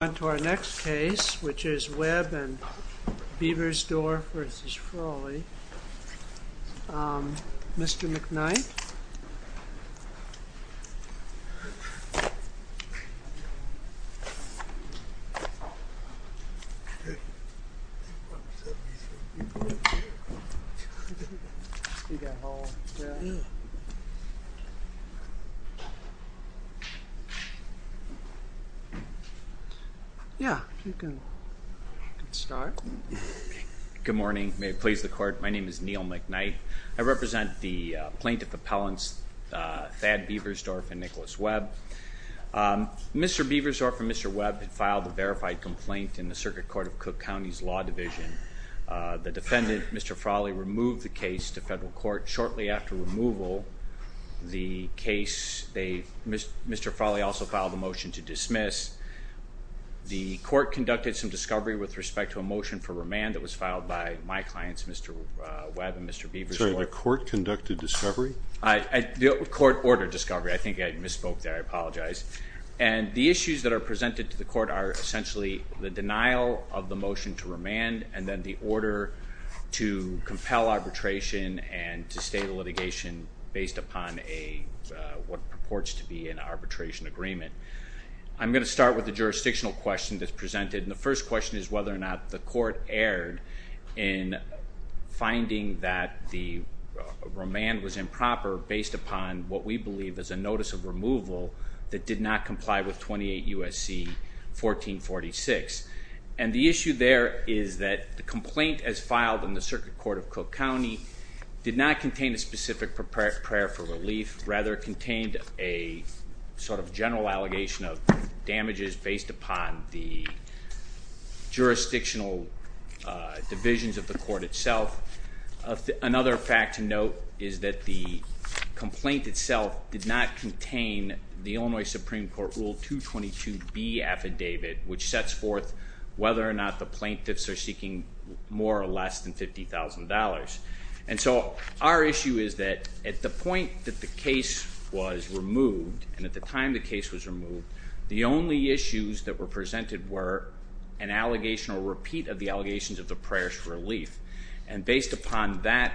On to our next case, which is Webb v. Beaversdorf v. Frawley, Mr. McKnight. Yeah, you can start. Good morning, may it please the court. My name is Neil McKnight. I represent the plaintiff appellants Thad Beaversdorf and Nicholas Webb. Mr. Beaversdorf and Mr. Webb had filed a verified complaint in the Circuit Court of Cook County's Law Division. The defendant, Mr. Frawley, removed the case to federal court. Shortly after removal, the case, Mr. Frawley also filed a motion to dismiss. The court conducted some discovery with respect to a motion for remand that was filed by my clients, Mr. Webb and Mr. Beaversdorf. Sorry, the court conducted discovery? The court ordered discovery. I think I misspoke there, I apologize. And the issues that are presented to the court are essentially the denial of the motion to remand and then the order to compel arbitration and to stay the litigation based upon what purports to be an arbitration agreement. I'm going to start with the jurisdictional question that's presented and the first question is whether or not the court erred in finding that the remand was improper based upon what we believe is a notice of removal that did not comply with 28 U.S.C. 1446. And the issue there is that the complaint as filed in the Circuit Court of Cook County did not contain a specific prayer for relief, rather it contained a sort of general allegation of damages based upon the jurisdictional divisions of the court itself. Another fact to note is that the complaint itself did not contain the Illinois Supreme Court Rule 222B affidavit which sets forth whether or not the plaintiffs are seeking more or less than $50,000. And so our issue is that at the point that the case was removed and at the time the case was removed, the only issues that were presented were an allegation or repeat of the allegations of the prayers for relief. And based upon that,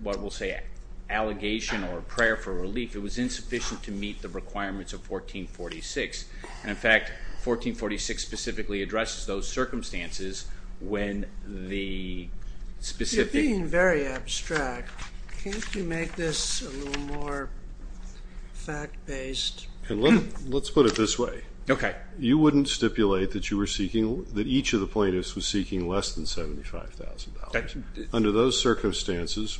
what we'll say allegation or prayer for relief, it was insufficient to meet the requirements of 1446. And in fact, 1446 specifically addresses those circumstances when the specific... You're being very abstract. Can't you make this a little more fact-based? Let's put it this way. Okay. You wouldn't stipulate that each of the plaintiffs was seeking less than $75,000. Under those circumstances,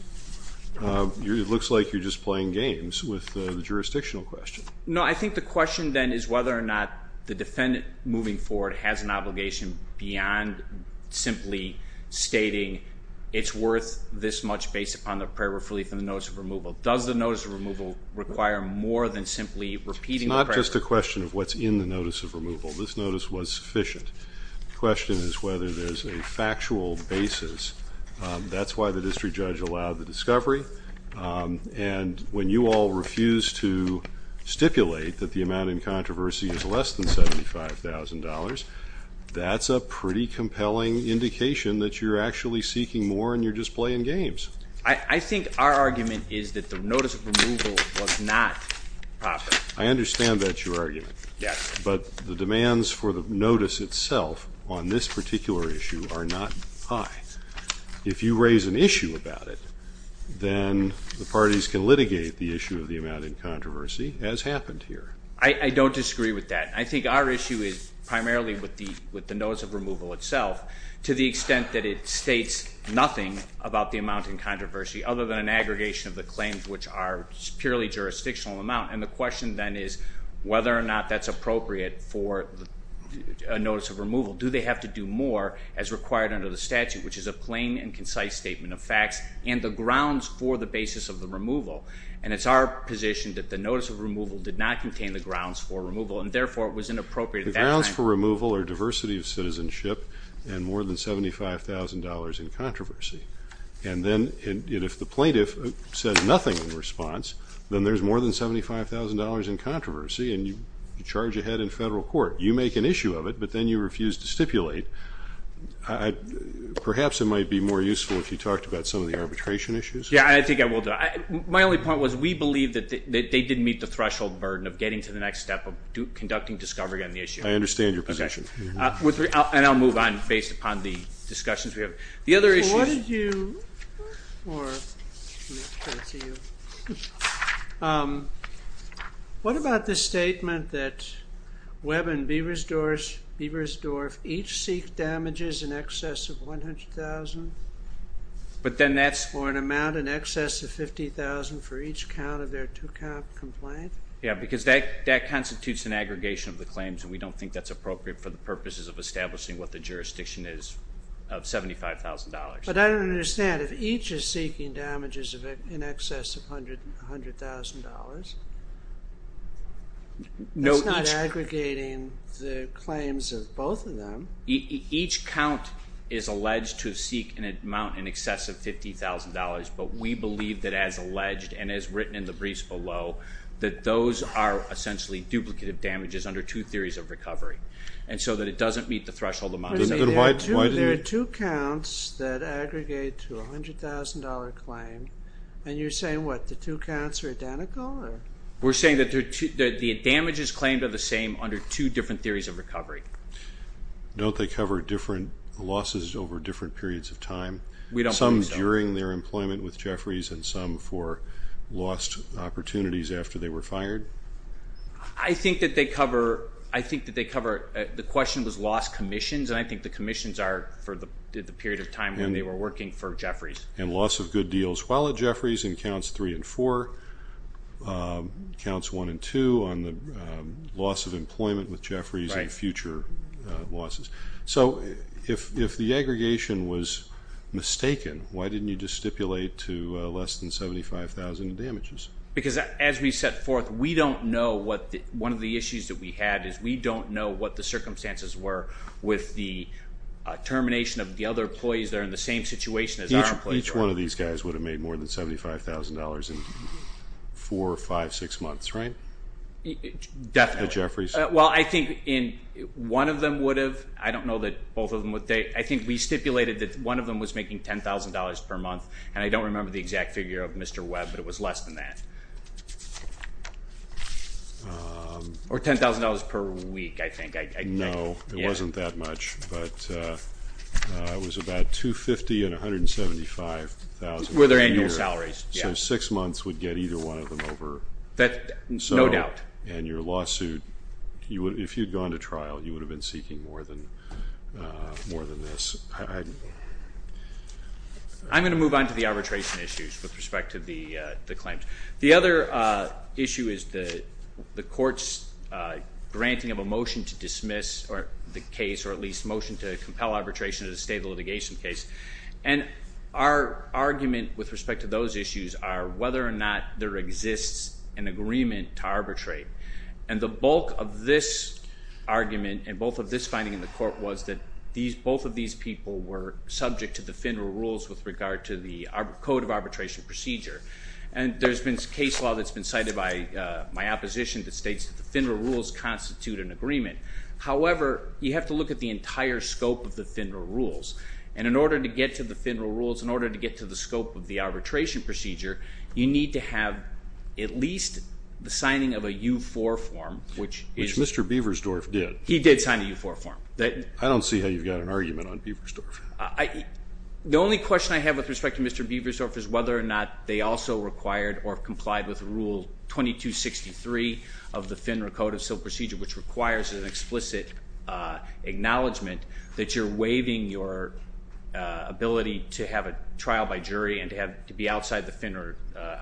it looks like you're just playing games with the jurisdictional question. No, I think the question then is whether or not the defendant moving forward has an obligation beyond simply stating it's worth this much based upon the prayer for relief and the notice of removal. Does the notice of removal require more than simply repeating the prayers? It's not just a question of what's in the notice of removal. This notice was sufficient. The question is whether there's a factual basis. That's why the district judge allowed the discovery. And when you all refuse to stipulate that the amount in controversy is less than $75,000, that's a pretty compelling indication that you're actually seeking more and you're just playing games. I think our argument is that the notice of removal was not proper. I understand that's your argument. Yes. But the demands for the notice itself on this particular issue are not high. If you raise an issue about it, then the parties can litigate the issue of the amount in controversy as happened here. I don't disagree with that. I think our issue is primarily with the notice of removal itself to the extent that it states nothing about the amount in controversy other than an aggregation of the claims which are purely jurisdictional amount. And the question then is whether or not that's appropriate for a notice of removal. Do they have to do more as required under the statute, which is a plain and concise statement of facts, and the grounds for the basis of the removal? And it's our position that the notice of removal did not contain the grounds for removal, and, therefore, it was inappropriate at that time. The grounds for removal are diversity of citizenship and more than $75,000 in controversy. And then if the plaintiff said nothing in response, then there's more than $75,000 in controversy, and you charge ahead in federal court. You make an issue of it, but then you refuse to stipulate. Perhaps it might be more useful if you talked about some of the arbitration issues. Yeah, I think I will do that. My only point was we believe that they didn't meet the threshold burden of getting to the next step of conducting discovery on the issue. I understand your position. And I'll move on based upon the discussions we have. The other issue is... What about the statement that Webb and Beversdorf each seek damages in excess of $100,000? But then that's... Or an amount in excess of $50,000 for each count of their two-count complaint? Yeah, because that constitutes an aggregation of the claims, and we don't think that's appropriate for the purposes of establishing what the jurisdiction is of $75,000. But I don't understand. If each is seeking damages in excess of $100,000, that's not aggregating the claims of both of them. Each count is alleged to seek an amount in excess of $50,000, but we believe that, as alleged and as written in the briefs below, that those are essentially duplicative damages under two theories of recovery, and so that it doesn't meet the threshold amount. There are two counts that aggregate to a $100,000 claim, and you're saying, what, the two counts are identical? We're saying that the damages claimed are the same under two different theories of recovery. Don't they cover different losses over different periods of time? We don't believe so. During their employment with Jeffries and some for lost opportunities after they were fired? I think that they cover the question of those lost commissions, and I think the commissions are for the period of time when they were working for Jeffries. And loss of good deals while at Jeffries in counts three and four, counts one and two on the loss of employment with Jeffries and future losses. So if the aggregation was mistaken, why didn't you just stipulate to less than $75,000 in damages? Because as we set forth, we don't know what one of the issues that we had is we don't know what the circumstances were with the termination of the other employees that are in the same situation as our employees. Each one of these guys would have made more than $75,000 in four, five, six months, right? Definitely. At Jeffries. Well, I think one of them would have. I don't know that both of them would. I think we stipulated that one of them was making $10,000 per month, and I don't remember the exact figure of Mr. Webb, but it was less than that. Or $10,000 per week, I think. No, it wasn't that much, but it was about $250,000 and $175,000. Were their annual salaries. So six months would get either one of them over. No doubt. And your lawsuit, if you had gone to trial, you would have been seeking more than this. I'm going to move on to the arbitration issues with respect to the claims. The other issue is the court's granting of a motion to dismiss the case, or at least motion to compel arbitration as a state of litigation case. And our argument with respect to those issues are whether or not there exists an agreement to arbitrate. And the bulk of this argument, and both of this finding in the court, was that both of these people were subject to the FINRA rules with regard to the code of arbitration procedure. And there's been case law that's been cited by my opposition that states that the FINRA rules constitute an agreement. However, you have to look at the entire scope of the FINRA rules. And in order to get to the FINRA rules, in order to get to the scope of the arbitration procedure, you need to have at least the signing of a U4 form, which is- Which Mr. Beversdorf did. He did sign a U4 form. I don't see how you've got an argument on Beversdorf. The only question I have with respect to Mr. Beversdorf is whether or not they also required or complied with Rule 2263 of the FINRA Code of Civil Procedure, which requires an explicit acknowledgement that you're waiving your ability to have a trial by jury and to be outside the FINRA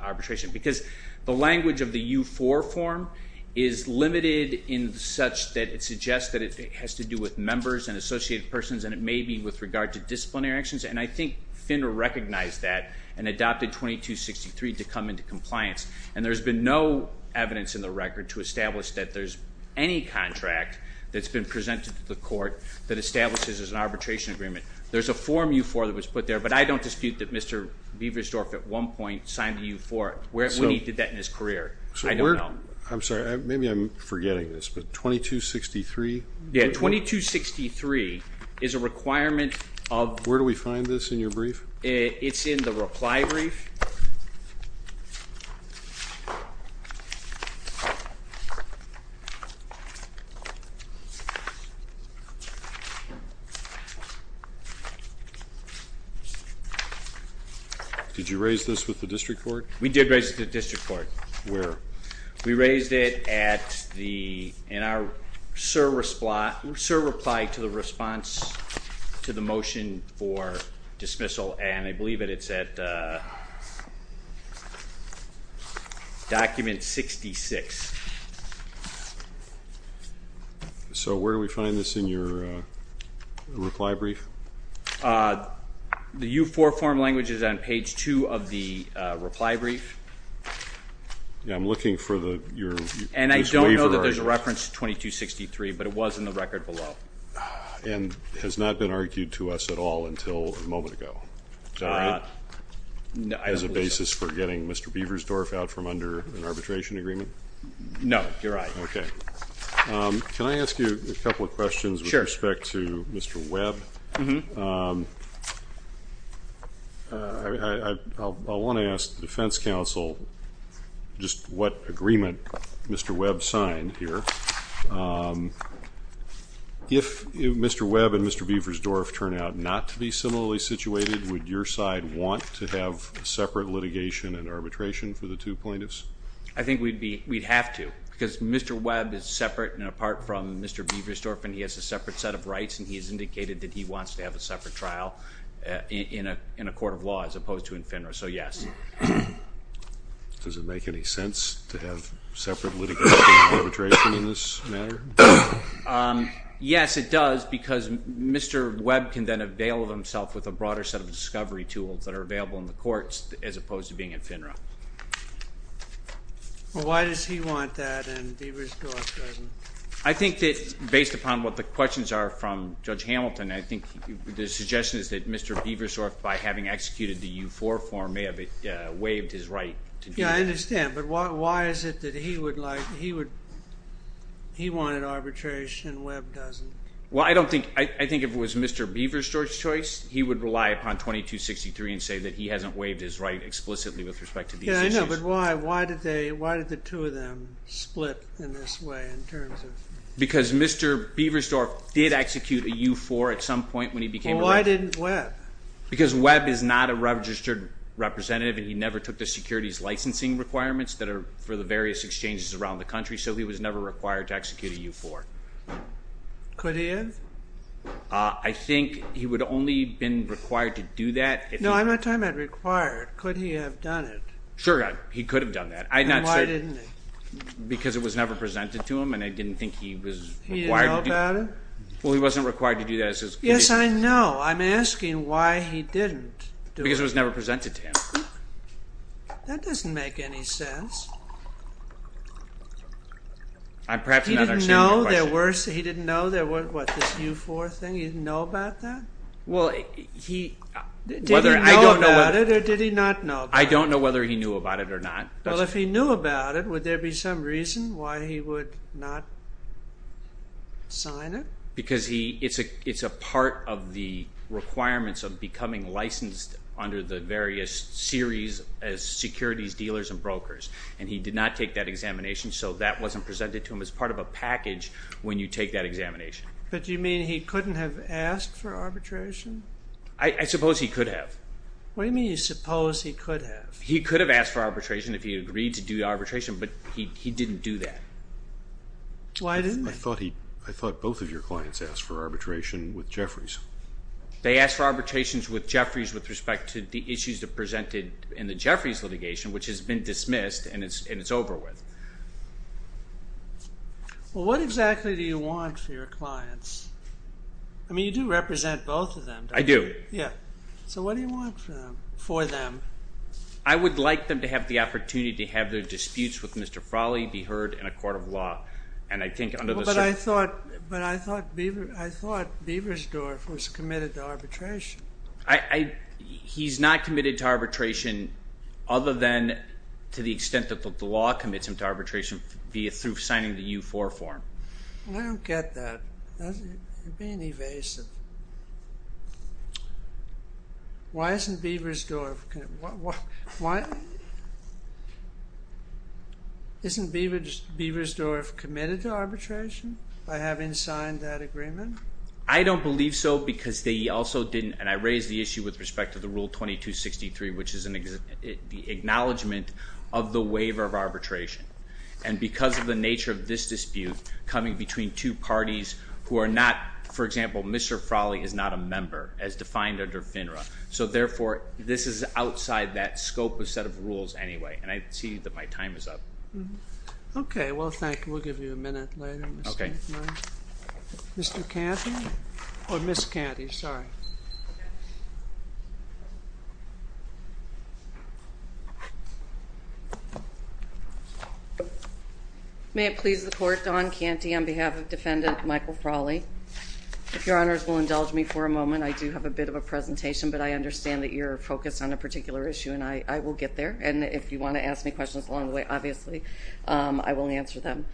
arbitration. Because the language of the U4 form is limited in such that it suggests that it has to do with members and associated persons, and it may be with regard to disciplinary actions. And I think FINRA recognized that and adopted 2263 to come into compliance. And there's been no evidence in the record to establish that there's any contract that's been presented to the court that establishes as an arbitration agreement. There's a form U4 that was put there, but I don't dispute that Mr. Beversdorf at one point signed a U4. When he did that in his career, I don't know. I'm sorry. Maybe I'm forgetting this, but 2263? Yeah, 2263 is a requirement of- Where do we find this in your brief? It's in the reply brief. Okay. Did you raise this with the district court? We did raise it with the district court. Where? We raised it in our SIR reply to the response to the motion for dismissal, and I believe that it's at document 66. So where do we find this in your reply brief? The U4 form language is on page 2 of the reply brief. Yeah, I'm looking for your waiver argument. And I don't know that there's a reference to 2263, but it was in the record below. And has not been argued to us at all until a moment ago. Is that right? No, I don't believe so. As a basis for getting Mr. Beversdorf out from under an arbitration agreement? No, you're right. Okay. Can I ask you a couple of questions with respect to Mr. Webb? Mm-hmm. I want to ask the defense counsel just what agreement Mr. Webb signed here. If Mr. Webb and Mr. Beversdorf turn out not to be similarly situated, would your side want to have separate litigation and arbitration for the two plaintiffs? I think we'd have to because Mr. Webb is separate and apart from Mr. Beversdorf, and he has a separate set of rights, and he has indicated that he wants to have a separate trial in a court of law as opposed to in FINRA, so yes. Does it make any sense to have separate litigation and arbitration in this matter? Yes, it does, because Mr. Webb can then avail himself with a broader set of discovery tools that are available in the courts as opposed to being in FINRA. Well, why does he want that and Beversdorf doesn't? I think that based upon what the questions are from Judge Hamilton, I think the suggestion is that Mr. Beversdorf, by having executed the U4 form, may have waived his right to do that. Yes, I understand, but why is it that he would like, he would, he wanted arbitration and Webb doesn't? Well, I don't think, I think if it was Mr. Beversdorf's choice, he would rely upon 2263 and say that he hasn't waived his right explicitly with respect to these issues. No, but why? Why did they, why did the two of them split in this way in terms of? Because Mr. Beversdorf did execute a U4 at some point when he became a... Well, why didn't Webb? Because Webb is not a registered representative and he never took the securities licensing requirements that are for the various exchanges around the country, so he was never required to execute a U4. Could he have? I think he would only have been required to do that if... No, I'm not talking about required. Could he have done it? Sure, he could have done that. I'm not certain. Then why didn't he? Because it was never presented to him and I didn't think he was required. He didn't know about it? Well, he wasn't required to do that. Yes, I know. I'm asking why he didn't do it. Because it was never presented to him. That doesn't make any sense. I'm perhaps not understanding your question. He didn't know there were, what, this U4 thing? He didn't know about that? Well, he... Did he know about it or did he not know about it? I don't know whether he knew about it or not. Well, if he knew about it, would there be some reason why he would not sign it? Because it's a part of the requirements of becoming licensed under the various series as securities dealers and brokers, and he did not take that examination, so that wasn't presented to him as part of a package when you take that examination. But do you mean he couldn't have asked for arbitration? I suppose he could have. What do you mean you suppose he could have? He could have asked for arbitration if he had agreed to do arbitration, but he didn't do that. Why didn't he? I thought both of your clients asked for arbitration with Jeffries. They asked for arbitrations with Jeffries with respect to the issues presented in the Jeffries litigation, which has been dismissed and it's over with. Well, what exactly do you want for your clients? I mean, you do represent both of them, don't you? I do. Yeah. So what do you want for them? I would like them to have the opportunity to have their disputes with Mr. Frawley be heard in a court of law. But I thought Beversdorf was committed to arbitration. He's not committed to arbitration other than to the extent that the law commits him to arbitration through signing the U4 form. I don't get that. You're being evasive. Why isn't Beversdorf committed to arbitration by having signed that agreement? I don't believe so because they also didn't, and I raise the issue with respect to the Rule 2263, which is the acknowledgement of the waiver of arbitration. And because of the nature of this dispute, coming between two parties who are not, for example, Mr. Frawley is not a member as defined under FINRA. So, therefore, this is outside that scope of set of rules anyway. And I see that my time is up. Okay. Well, thank you. We'll give you a minute later, Mr. McClain. Mr. Canty or Ms. Canty? Sorry. Okay. May it please the Court, Don Canty, on behalf of Defendant Michael Frawley, if Your Honors will indulge me for a moment. I do have a bit of a presentation, but I understand that you're focused on a particular issue, and I will get there. And if you want to ask me questions along the way, obviously, I will answer them.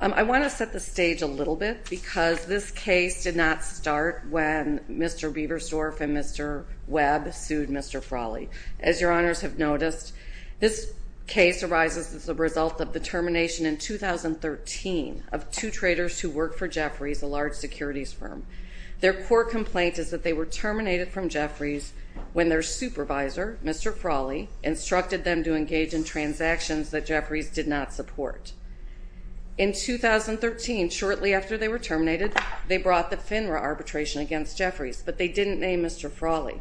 I want to set the stage a little bit because this case did not start when Mr. Beversdorf and Mr. Webb sued Mr. Frawley. As Your Honors have noticed, this case arises as a result of the termination in 2013 of two traders who worked for Jeffries, a large securities firm. Their court complaint is that they were terminated from Jeffries when their supervisor, Mr. Frawley, instructed them to engage in transactions that Jeffries did not support. In 2013, shortly after they were terminated, they brought the FINRA arbitration against Jeffries, but they didn't name Mr. Frawley.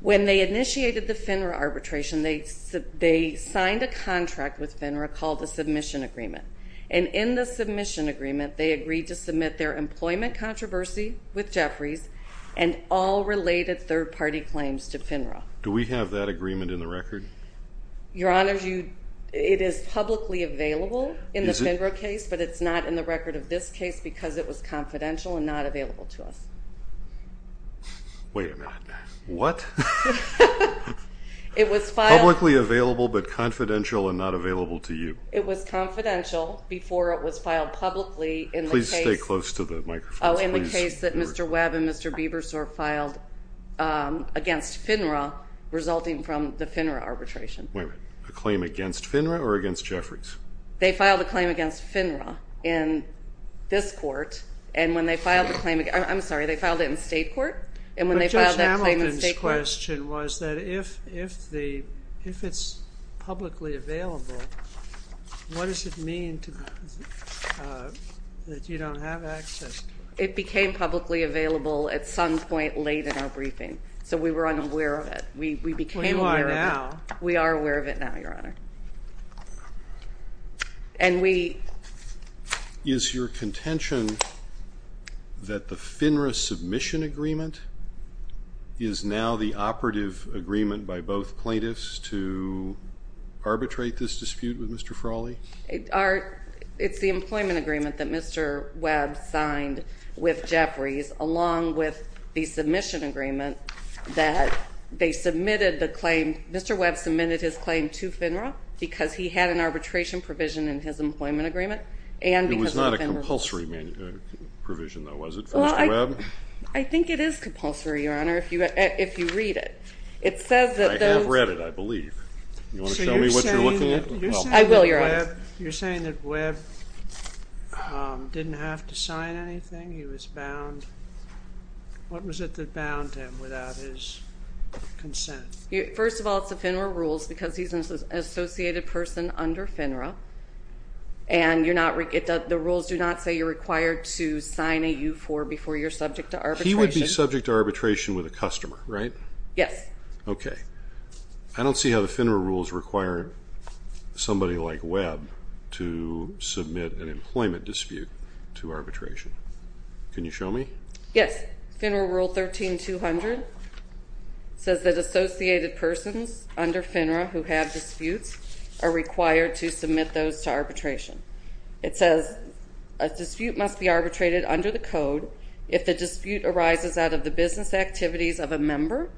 When they initiated the FINRA arbitration, they signed a contract with FINRA called the Submission Agreement. And in the Submission Agreement, they agreed to submit their employment controversy with Jeffries and all related third-party claims to FINRA. Do we have that agreement in the record? Your Honors, it is publicly available in the FINRA case, but it's not in the record of this case because it was confidential and not available to us. Wait a minute. What? It was filed. Publicly available but confidential and not available to you. It was confidential before it was filed publicly in the case. Please stay close to the microphone. Oh, in the case that Mr. Webb and Mr. Biebersor filed against FINRA resulting from the FINRA arbitration. Wait a minute. A claim against FINRA or against Jeffries? They filed a claim against FINRA in this court, and when they filed the claim against, I'm sorry, they filed it in state court, and when they filed that claim in state court. But Judge Hamilton's question was that if it's publicly available, what does it mean that you don't have access to it? It became publicly available at some point late in our briefing, so we were unaware of it. We became aware of it. Well, you are now. We are aware of it now, Your Honor. And we... Is your contention that the FINRA submission agreement is now the operative agreement by both plaintiffs to arbitrate this dispute with Mr. Frawley? It's the employment agreement that Mr. Webb signed with Jeffries along with the submission agreement that they submitted the claim. Mr. Webb submitted his claim to FINRA because he had an arbitration provision in his employment agreement and because of FINRA's... It was not a compulsory provision, though, was it, for Mr. Webb? I think it is compulsory, Your Honor, if you read it. I have read it, I believe. Do you want to tell me what you're looking at? I will, Your Honor. You're saying that Webb didn't have to sign anything? He was bound? What was it that bound him without his consent? First of all, it's the FINRA rules because he's an associated person under FINRA, and the rules do not say you're required to sign a U-4 before you're subject to arbitration. He would be subject to arbitration with a customer, right? Yes. Okay. I don't see how the FINRA rules require somebody like Webb to submit an employment dispute to arbitration. Can you show me? Yes. FINRA Rule 13-200 says that associated persons under FINRA who have disputes are required to submit those to arbitration. It says a dispute must be arbitrated under the code if the dispute arises out of the business activities of a member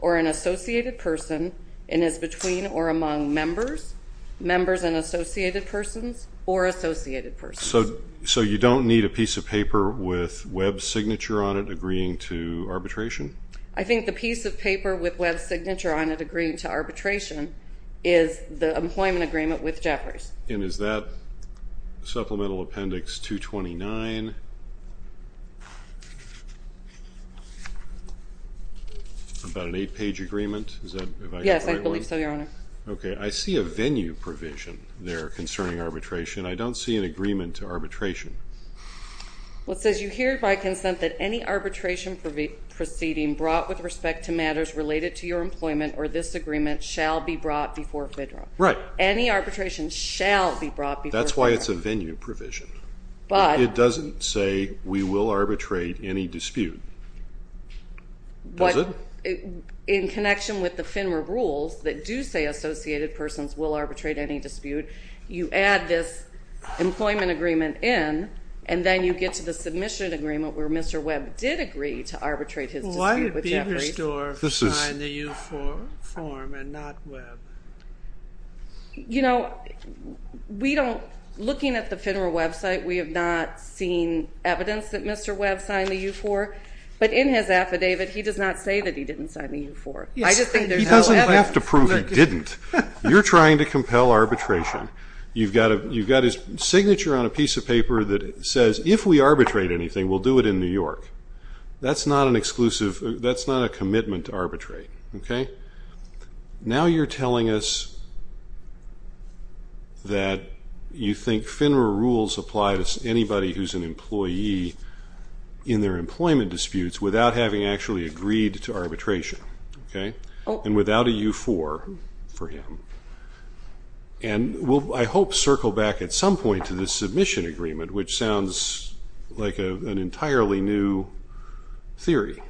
or an associated person and is between or among members, members and associated persons, or associated persons. So you don't need a piece of paper with Webb's signature on it agreeing to arbitration? I think the piece of paper with Webb's signature on it agreeing to arbitration is the employment agreement with Jefferies. And is that Supplemental Appendix 229? About an eight-page agreement? Yes, I believe so, Your Honor. Okay. I see a venue provision there concerning arbitration. I don't see an agreement to arbitration. Well, it says you hereby consent that any arbitration proceeding brought with respect to matters related to your employment or this agreement shall be brought before FINRA. Right. Any arbitration shall be brought before FINRA. That's why it's a venue provision. But it doesn't say we will arbitrate any dispute, does it? In connection with the FINRA rules that do say associated persons will arbitrate any dispute, you add this employment agreement in, and then you get to the submission agreement where Mr. Webb did agree to arbitrate his dispute with Jefferies. Why did Biebersdorf sign the U-4 form and not Webb? You know, looking at the FINRA website, we have not seen evidence that Mr. Webb signed the U-4. But in his affidavit, he does not say that he didn't sign the U-4. He doesn't have to prove he didn't. You're trying to compel arbitration. You've got his signature on a piece of paper that says, if we arbitrate anything, we'll do it in New York. That's not a commitment to arbitrate. Now you're telling us that you think FINRA rules apply to anybody who's an employee in their employment disputes without having actually agreed to arbitration and without a U-4 for him. And we'll, I hope, circle back at some point to the submission agreement, which sounds like an entirely new theory.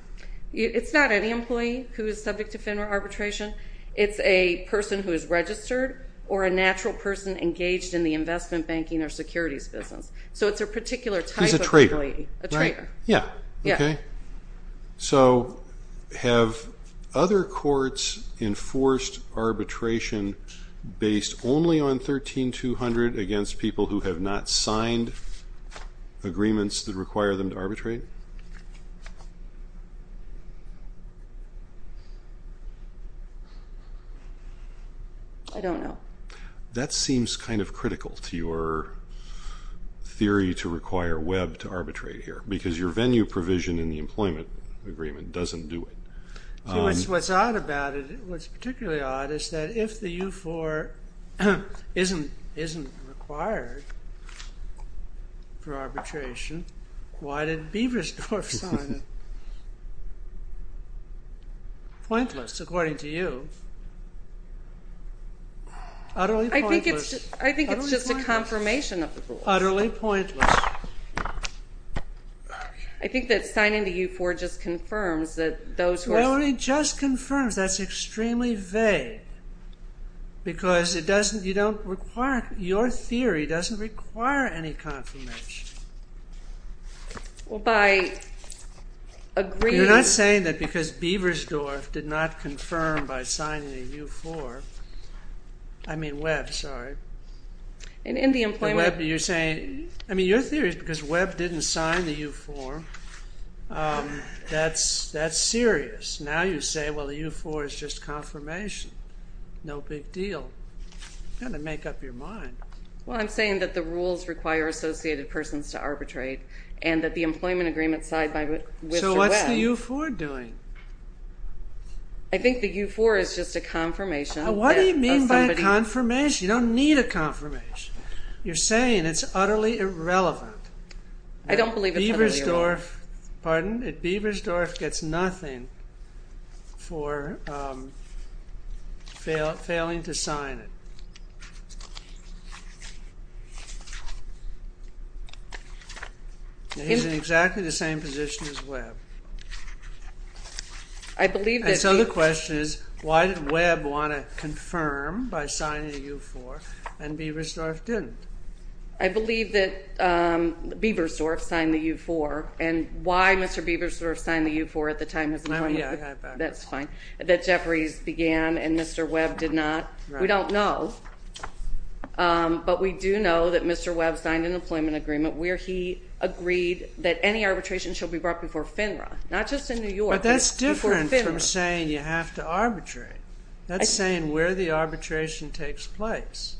It's not any employee who is subject to FINRA arbitration. It's a person who is registered or a natural person engaged in the investment, banking, or securities business. So it's a particular type of employee. He's a trader, right? A trader. Yeah. Okay. So have other courts enforced arbitration based only on 13-200 against people who have not signed agreements that require them to arbitrate? I don't know. That seems kind of critical to your theory to require Webb to arbitrate here because your venue provision in the employment agreement doesn't do it. What's odd about it, what's particularly odd, is that if the U-4 isn't required for arbitration, why did Beversdorf sign it? Pointless, according to you. Utterly pointless. I think it's just a confirmation of the rules. Utterly pointless. I think that signing the U-4 just confirms that those who are ---- Well, it just confirms. That's extremely vague because your theory doesn't require any confirmation. Well, by agreeing ---- You're not saying that because Beversdorf did not confirm by signing the U-4. I mean Webb, sorry. In the employment ---- You're saying, I mean your theory is because Webb didn't sign the U-4, that's serious. Now you say, well, the U-4 is just confirmation, no big deal. You've got to make up your mind. Well, I'm saying that the rules require associated persons to arbitrate and that the employment agreement signed by Mr. Webb ---- So what's the U-4 doing? I think the U-4 is just a confirmation that somebody ---- You're saying it's utterly irrelevant. I don't believe it's utterly irrelevant. Beversdorf gets nothing for failing to sign it. He's in exactly the same position as Webb. I believe that ---- So the question is, why did Webb want to confirm by signing the U-4 and Beversdorf didn't? I believe that Beversdorf signed the U-4. And why Mr. Beversdorf signed the U-4 at the time of his employment ---- That's fine. That Jeffries began and Mr. Webb did not, we don't know. But we do know that Mr. Webb signed an employment agreement where he agreed that any arbitration shall be brought before FINRA, not just in New York, but before FINRA. That's different from saying you have to arbitrate. That's saying where the arbitration takes place.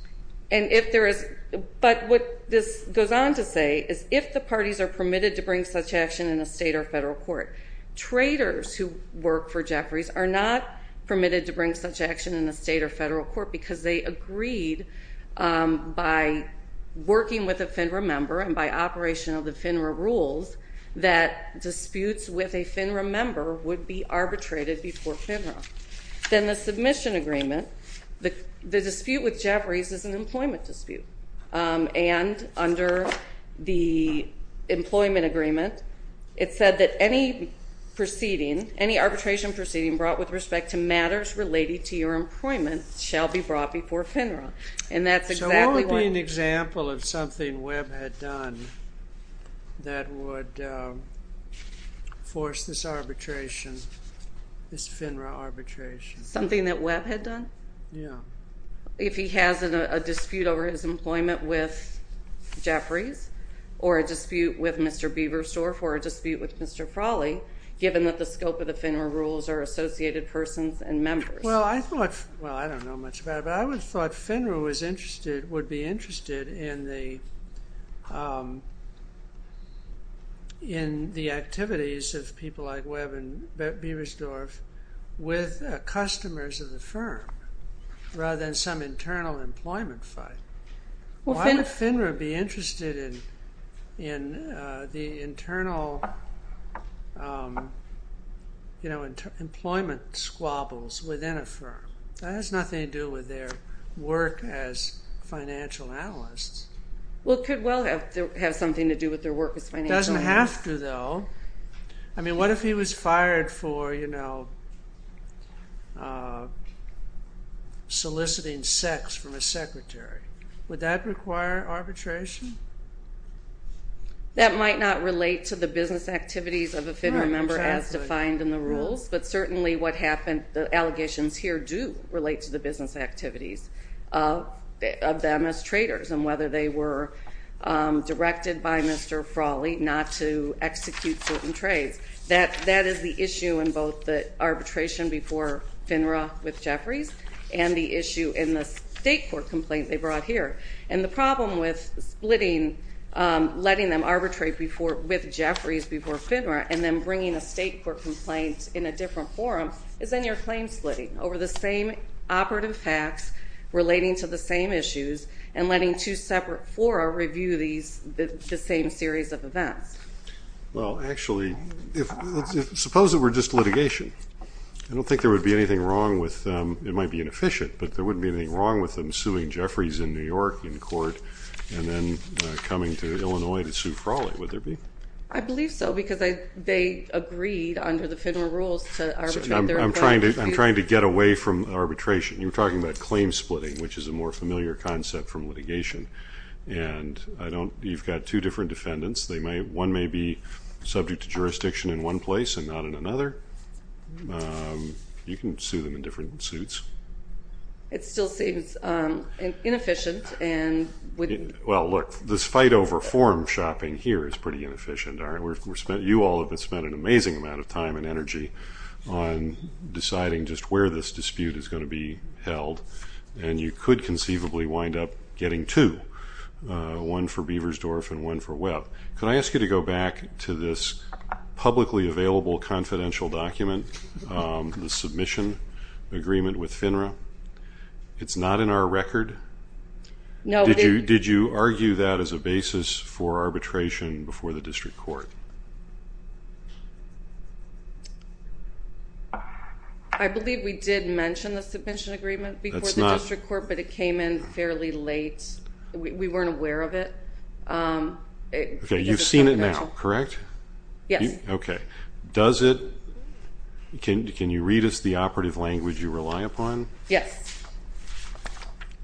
But what this goes on to say is if the parties are permitted to bring such action in a state or federal court, traders who work for Jeffries are not permitted to bring such action in a state or federal court because they agreed by working with a FINRA member and by operation of the FINRA rules that disputes with a FINRA member would be arbitrated before FINRA. Then the submission agreement, the dispute with Jeffries is an employment dispute. And under the employment agreement, it said that any proceeding, any arbitration proceeding brought with respect to matters related to your employment shall be brought before FINRA. So what would be an example of something Webb had done that would force this arbitration, this FINRA arbitration? Something that Webb had done? Yeah. If he has a dispute over his employment with Jeffries or a dispute with Mr. Bieberstorff or a dispute with Mr. Frawley, given that the scope of the FINRA rules are associated persons and members. Well, I don't know much about it, but I would have thought FINRA would be interested in the activities of people like Webb and Bieberstorff with customers of the firm rather than some internal employment fight. Why would FINRA be interested in the internal employment squabbles within a firm? That has nothing to do with their work as financial analysts. Well, it could well have something to do with their work as financial analysts. It doesn't have to, though. I mean, what if he was fired for soliciting sex from a secretary? Would that require arbitration? That might not relate to the business activities of a FINRA member as defined in the rules, but certainly what happened, the allegations here do relate to the business activities of them as traders and whether they were directed by Mr. Frawley not to execute certain trades. That is the issue in both the arbitration before FINRA with Jeffries and the issue in the state court complaint they brought here. And the problem with splitting, letting them arbitrate with Jeffries before FINRA and then bringing a state court complaint in a different forum is then you're claim splitting over the same operative facts relating to the same issues and letting two separate fora review the same series of events. Well, actually, suppose it were just litigation. I don't think there would be anything wrong with them. It might be inefficient, but there wouldn't be anything wrong with them suing Jeffries in New York in court and then coming to Illinois to sue Frawley, would there be? I believe so because they agreed under the FINRA rules to arbitrate their employees. I'm trying to get away from arbitration. You were talking about claim splitting, which is a more familiar concept from litigation. And you've got two different defendants. One may be subject to jurisdiction in one place and not in another. You can sue them in different suits. It still seems inefficient. Well, look, this fight over forum shopping here is pretty inefficient. You all have spent an amazing amount of time and energy on deciding just where this dispute is going to be held, and you could conceivably wind up getting two, one for Beversdorf and one for Webb. Could I ask you to go back to this publicly available confidential document, the submission agreement with FINRA? It's not in our record? No. Did you argue that as a basis for arbitration before the district court? I believe we did mention the submission agreement before the district court, but it came in fairly late. We weren't aware of it. Okay. You've seen it now, correct? Yes. Okay. Can you read us the operative language you rely upon? Yes.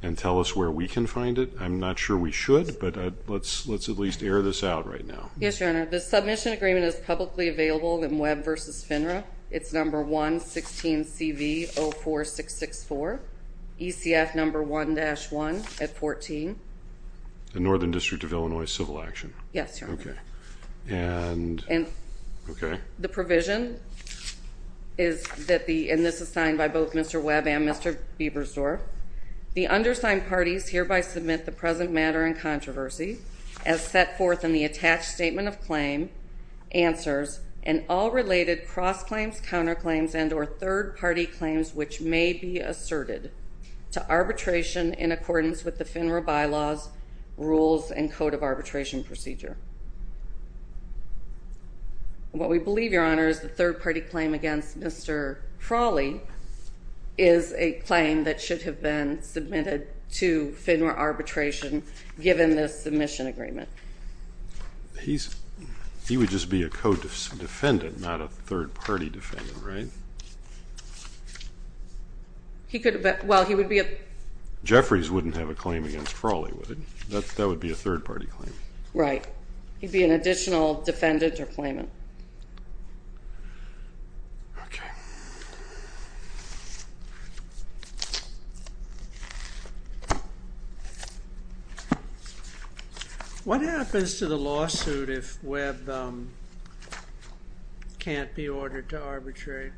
And tell us where we can find it? I'm not sure we should, but let's at least air this out right now. Yes, Your Honor. The submission agreement is publicly available in Webb v. FINRA. It's number 116CV04664, ECF number 1-1 at 14. The Northern District of Illinois Civil Action. Yes, Your Honor. Okay. Okay. The provision is that the, and this is signed by both Mr. Webb and Mr. Biebersdorf, the undersigned parties hereby submit the present matter in controversy as set forth in the attached statement of claim, answers, and all related cross-claims, counterclaims, and or third-party claims which may be asserted to arbitration in accordance with the FINRA bylaws, rules, and code of arbitration procedure. What we believe, Your Honor, is the third-party claim against Mr. Frawley is a claim that should have been submitted to FINRA arbitration given this submission agreement. He would just be a co-defendant, not a third-party defendant, right? He could have been. Well, he would be a. Jeffries wouldn't have a claim against Frawley, would he? That would be a third-party claim. Right. He'd be an additional defendant or claimant. Okay. What happens to the lawsuit if Webb can't be ordered to arbitrate?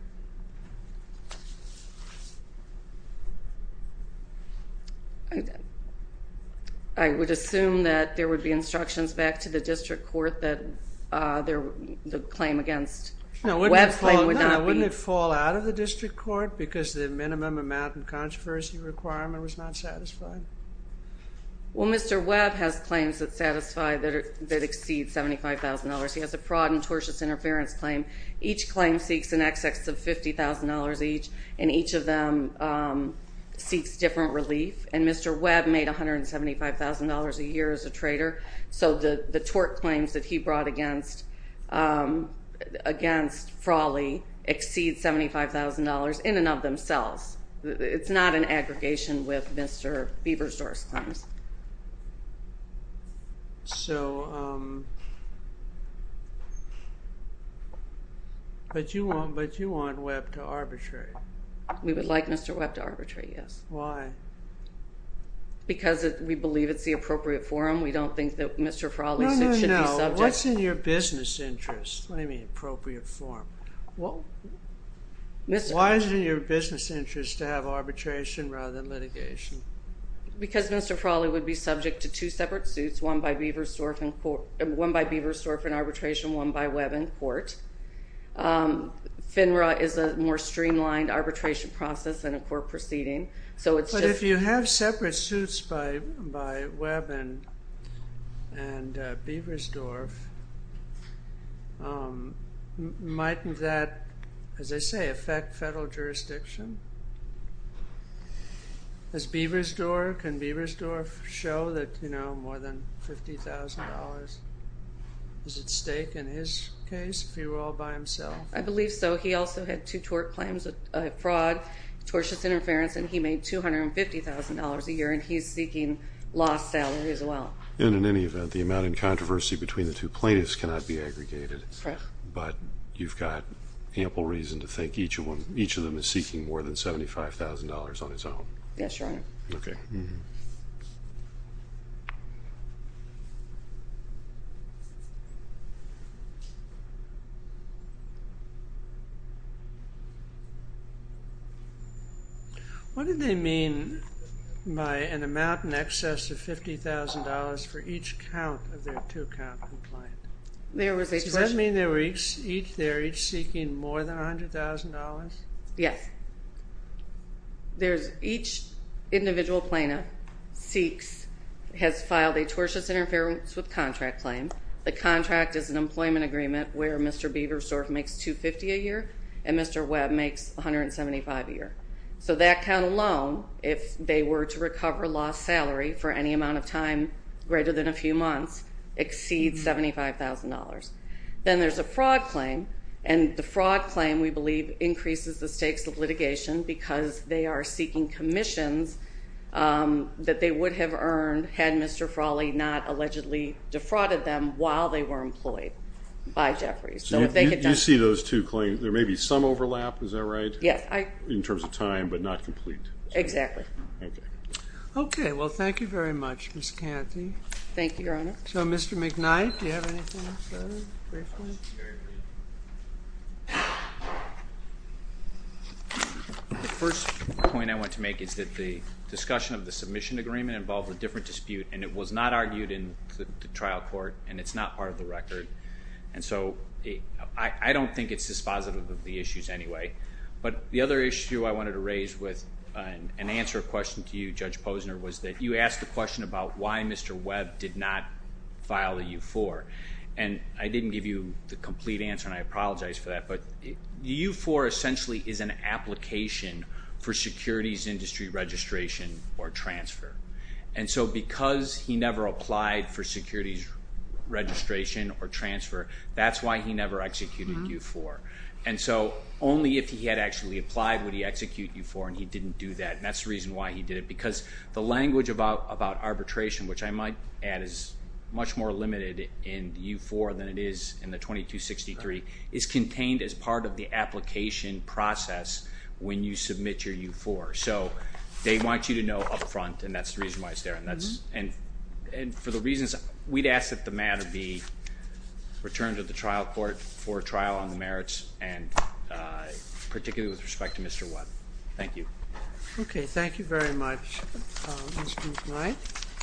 I would assume that there would be instructions back to the district court that the claim against Webb would not be. Wouldn't it fall out of the district court because the minimum amount and controversy requirement was not satisfied? Well, Mr. Webb has claims that satisfy that exceed $75,000. He has a fraud and tortious interference claim. Each claim seeks an excess of $50,000 each, and each of them seeks different relief. And Mr. Webb made $175,000 a year as a trader. So the tort claims that he brought against Frawley exceed $75,000 in and of themselves. It's not an aggregation with Mr. Beaversdorf's claims. So, but you want Webb to arbitrate? We would like Mr. Webb to arbitrate, yes. Why? Because we believe it's the appropriate forum. We don't think that Mr. Frawley's suit should be subject. No, no, no. What's in your business interest? What do you mean appropriate forum? Why is it in your business interest to have arbitration rather than litigation? Because Mr. Frawley would be subject to two separate suits, one by Beaversdorf in arbitration, one by Webb in court. FINRA is a more streamlined arbitration process than a court proceeding. But if you have separate suits by Webb and Beaversdorf, might that, as they say, affect federal jurisdiction? Can Beaversdorf show that, you know, more than $50,000 is at stake in his case if he were all by himself? I believe so. He also had two tort claims, a fraud, tortious interference, and he made $250,000 a year, and he's seeking lost salary as well. And in any event, the amount in controversy between the two plaintiffs cannot be aggregated. Correct. But you've got ample reason to think each of them is seeking more than $75,000 on his own. Yes, Your Honor. Okay. What do they mean by an amount in excess of $50,000 for each count of their two-count complaint? Does that mean they're each seeking more than $100,000? Yes. There's each individual plaintiff seeks, has filed a tortious interference with contract claim. The contract is an employment agreement where Mr. Beaversdorf makes $250,000 a year and Mr. Webb makes $175,000 a year. So that count alone, if they were to recover lost salary for any amount of time greater than a few months, exceeds $75,000. Then there's a fraud claim, and the fraud claim, we believe, increases the stakes of litigation because they are seeking commissions that they would have earned had Mr. Frawley not allegedly defrauded them while they were employed by Jeffries. So if they could just... You see those two claims, there may be some overlap, is that right? Yes. In terms of time, but not complete. Exactly. Okay. Okay. Well, thank you very much, Ms. Canty. Thank you, Your Honor. So, Mr. McKnight, do you have anything to say briefly? The first point I want to make is that the discussion of the submission agreement involved a different dispute, and it was not argued in the trial court, and it's not part of the record. And so I don't think it's dispositive of the issues anyway. But the other issue I wanted to raise with an answer question to you, Judge Posner, was that you asked the question about why Mr. Webb did not file a U-4. And I didn't give you the complete answer, and I apologize for that. But the U-4 essentially is an application for securities industry registration or transfer. And so because he never applied for securities registration or transfer, that's why he never executed U-4. And so only if he had actually applied would he execute U-4, and he didn't do that. And that's the reason why he did it, because the language about arbitration, which I might add is much more limited in the U-4 than it is in the 2263, is contained as part of the application process when you submit your U-4. So they want you to know up front, and that's the reason why it's there. And for the reasons, we'd ask that the matter be returned to the trial court for trial on the merits, and particularly with respect to Mr. Webb. Thank you. Okay. Thank you very much, Mr. McKnight.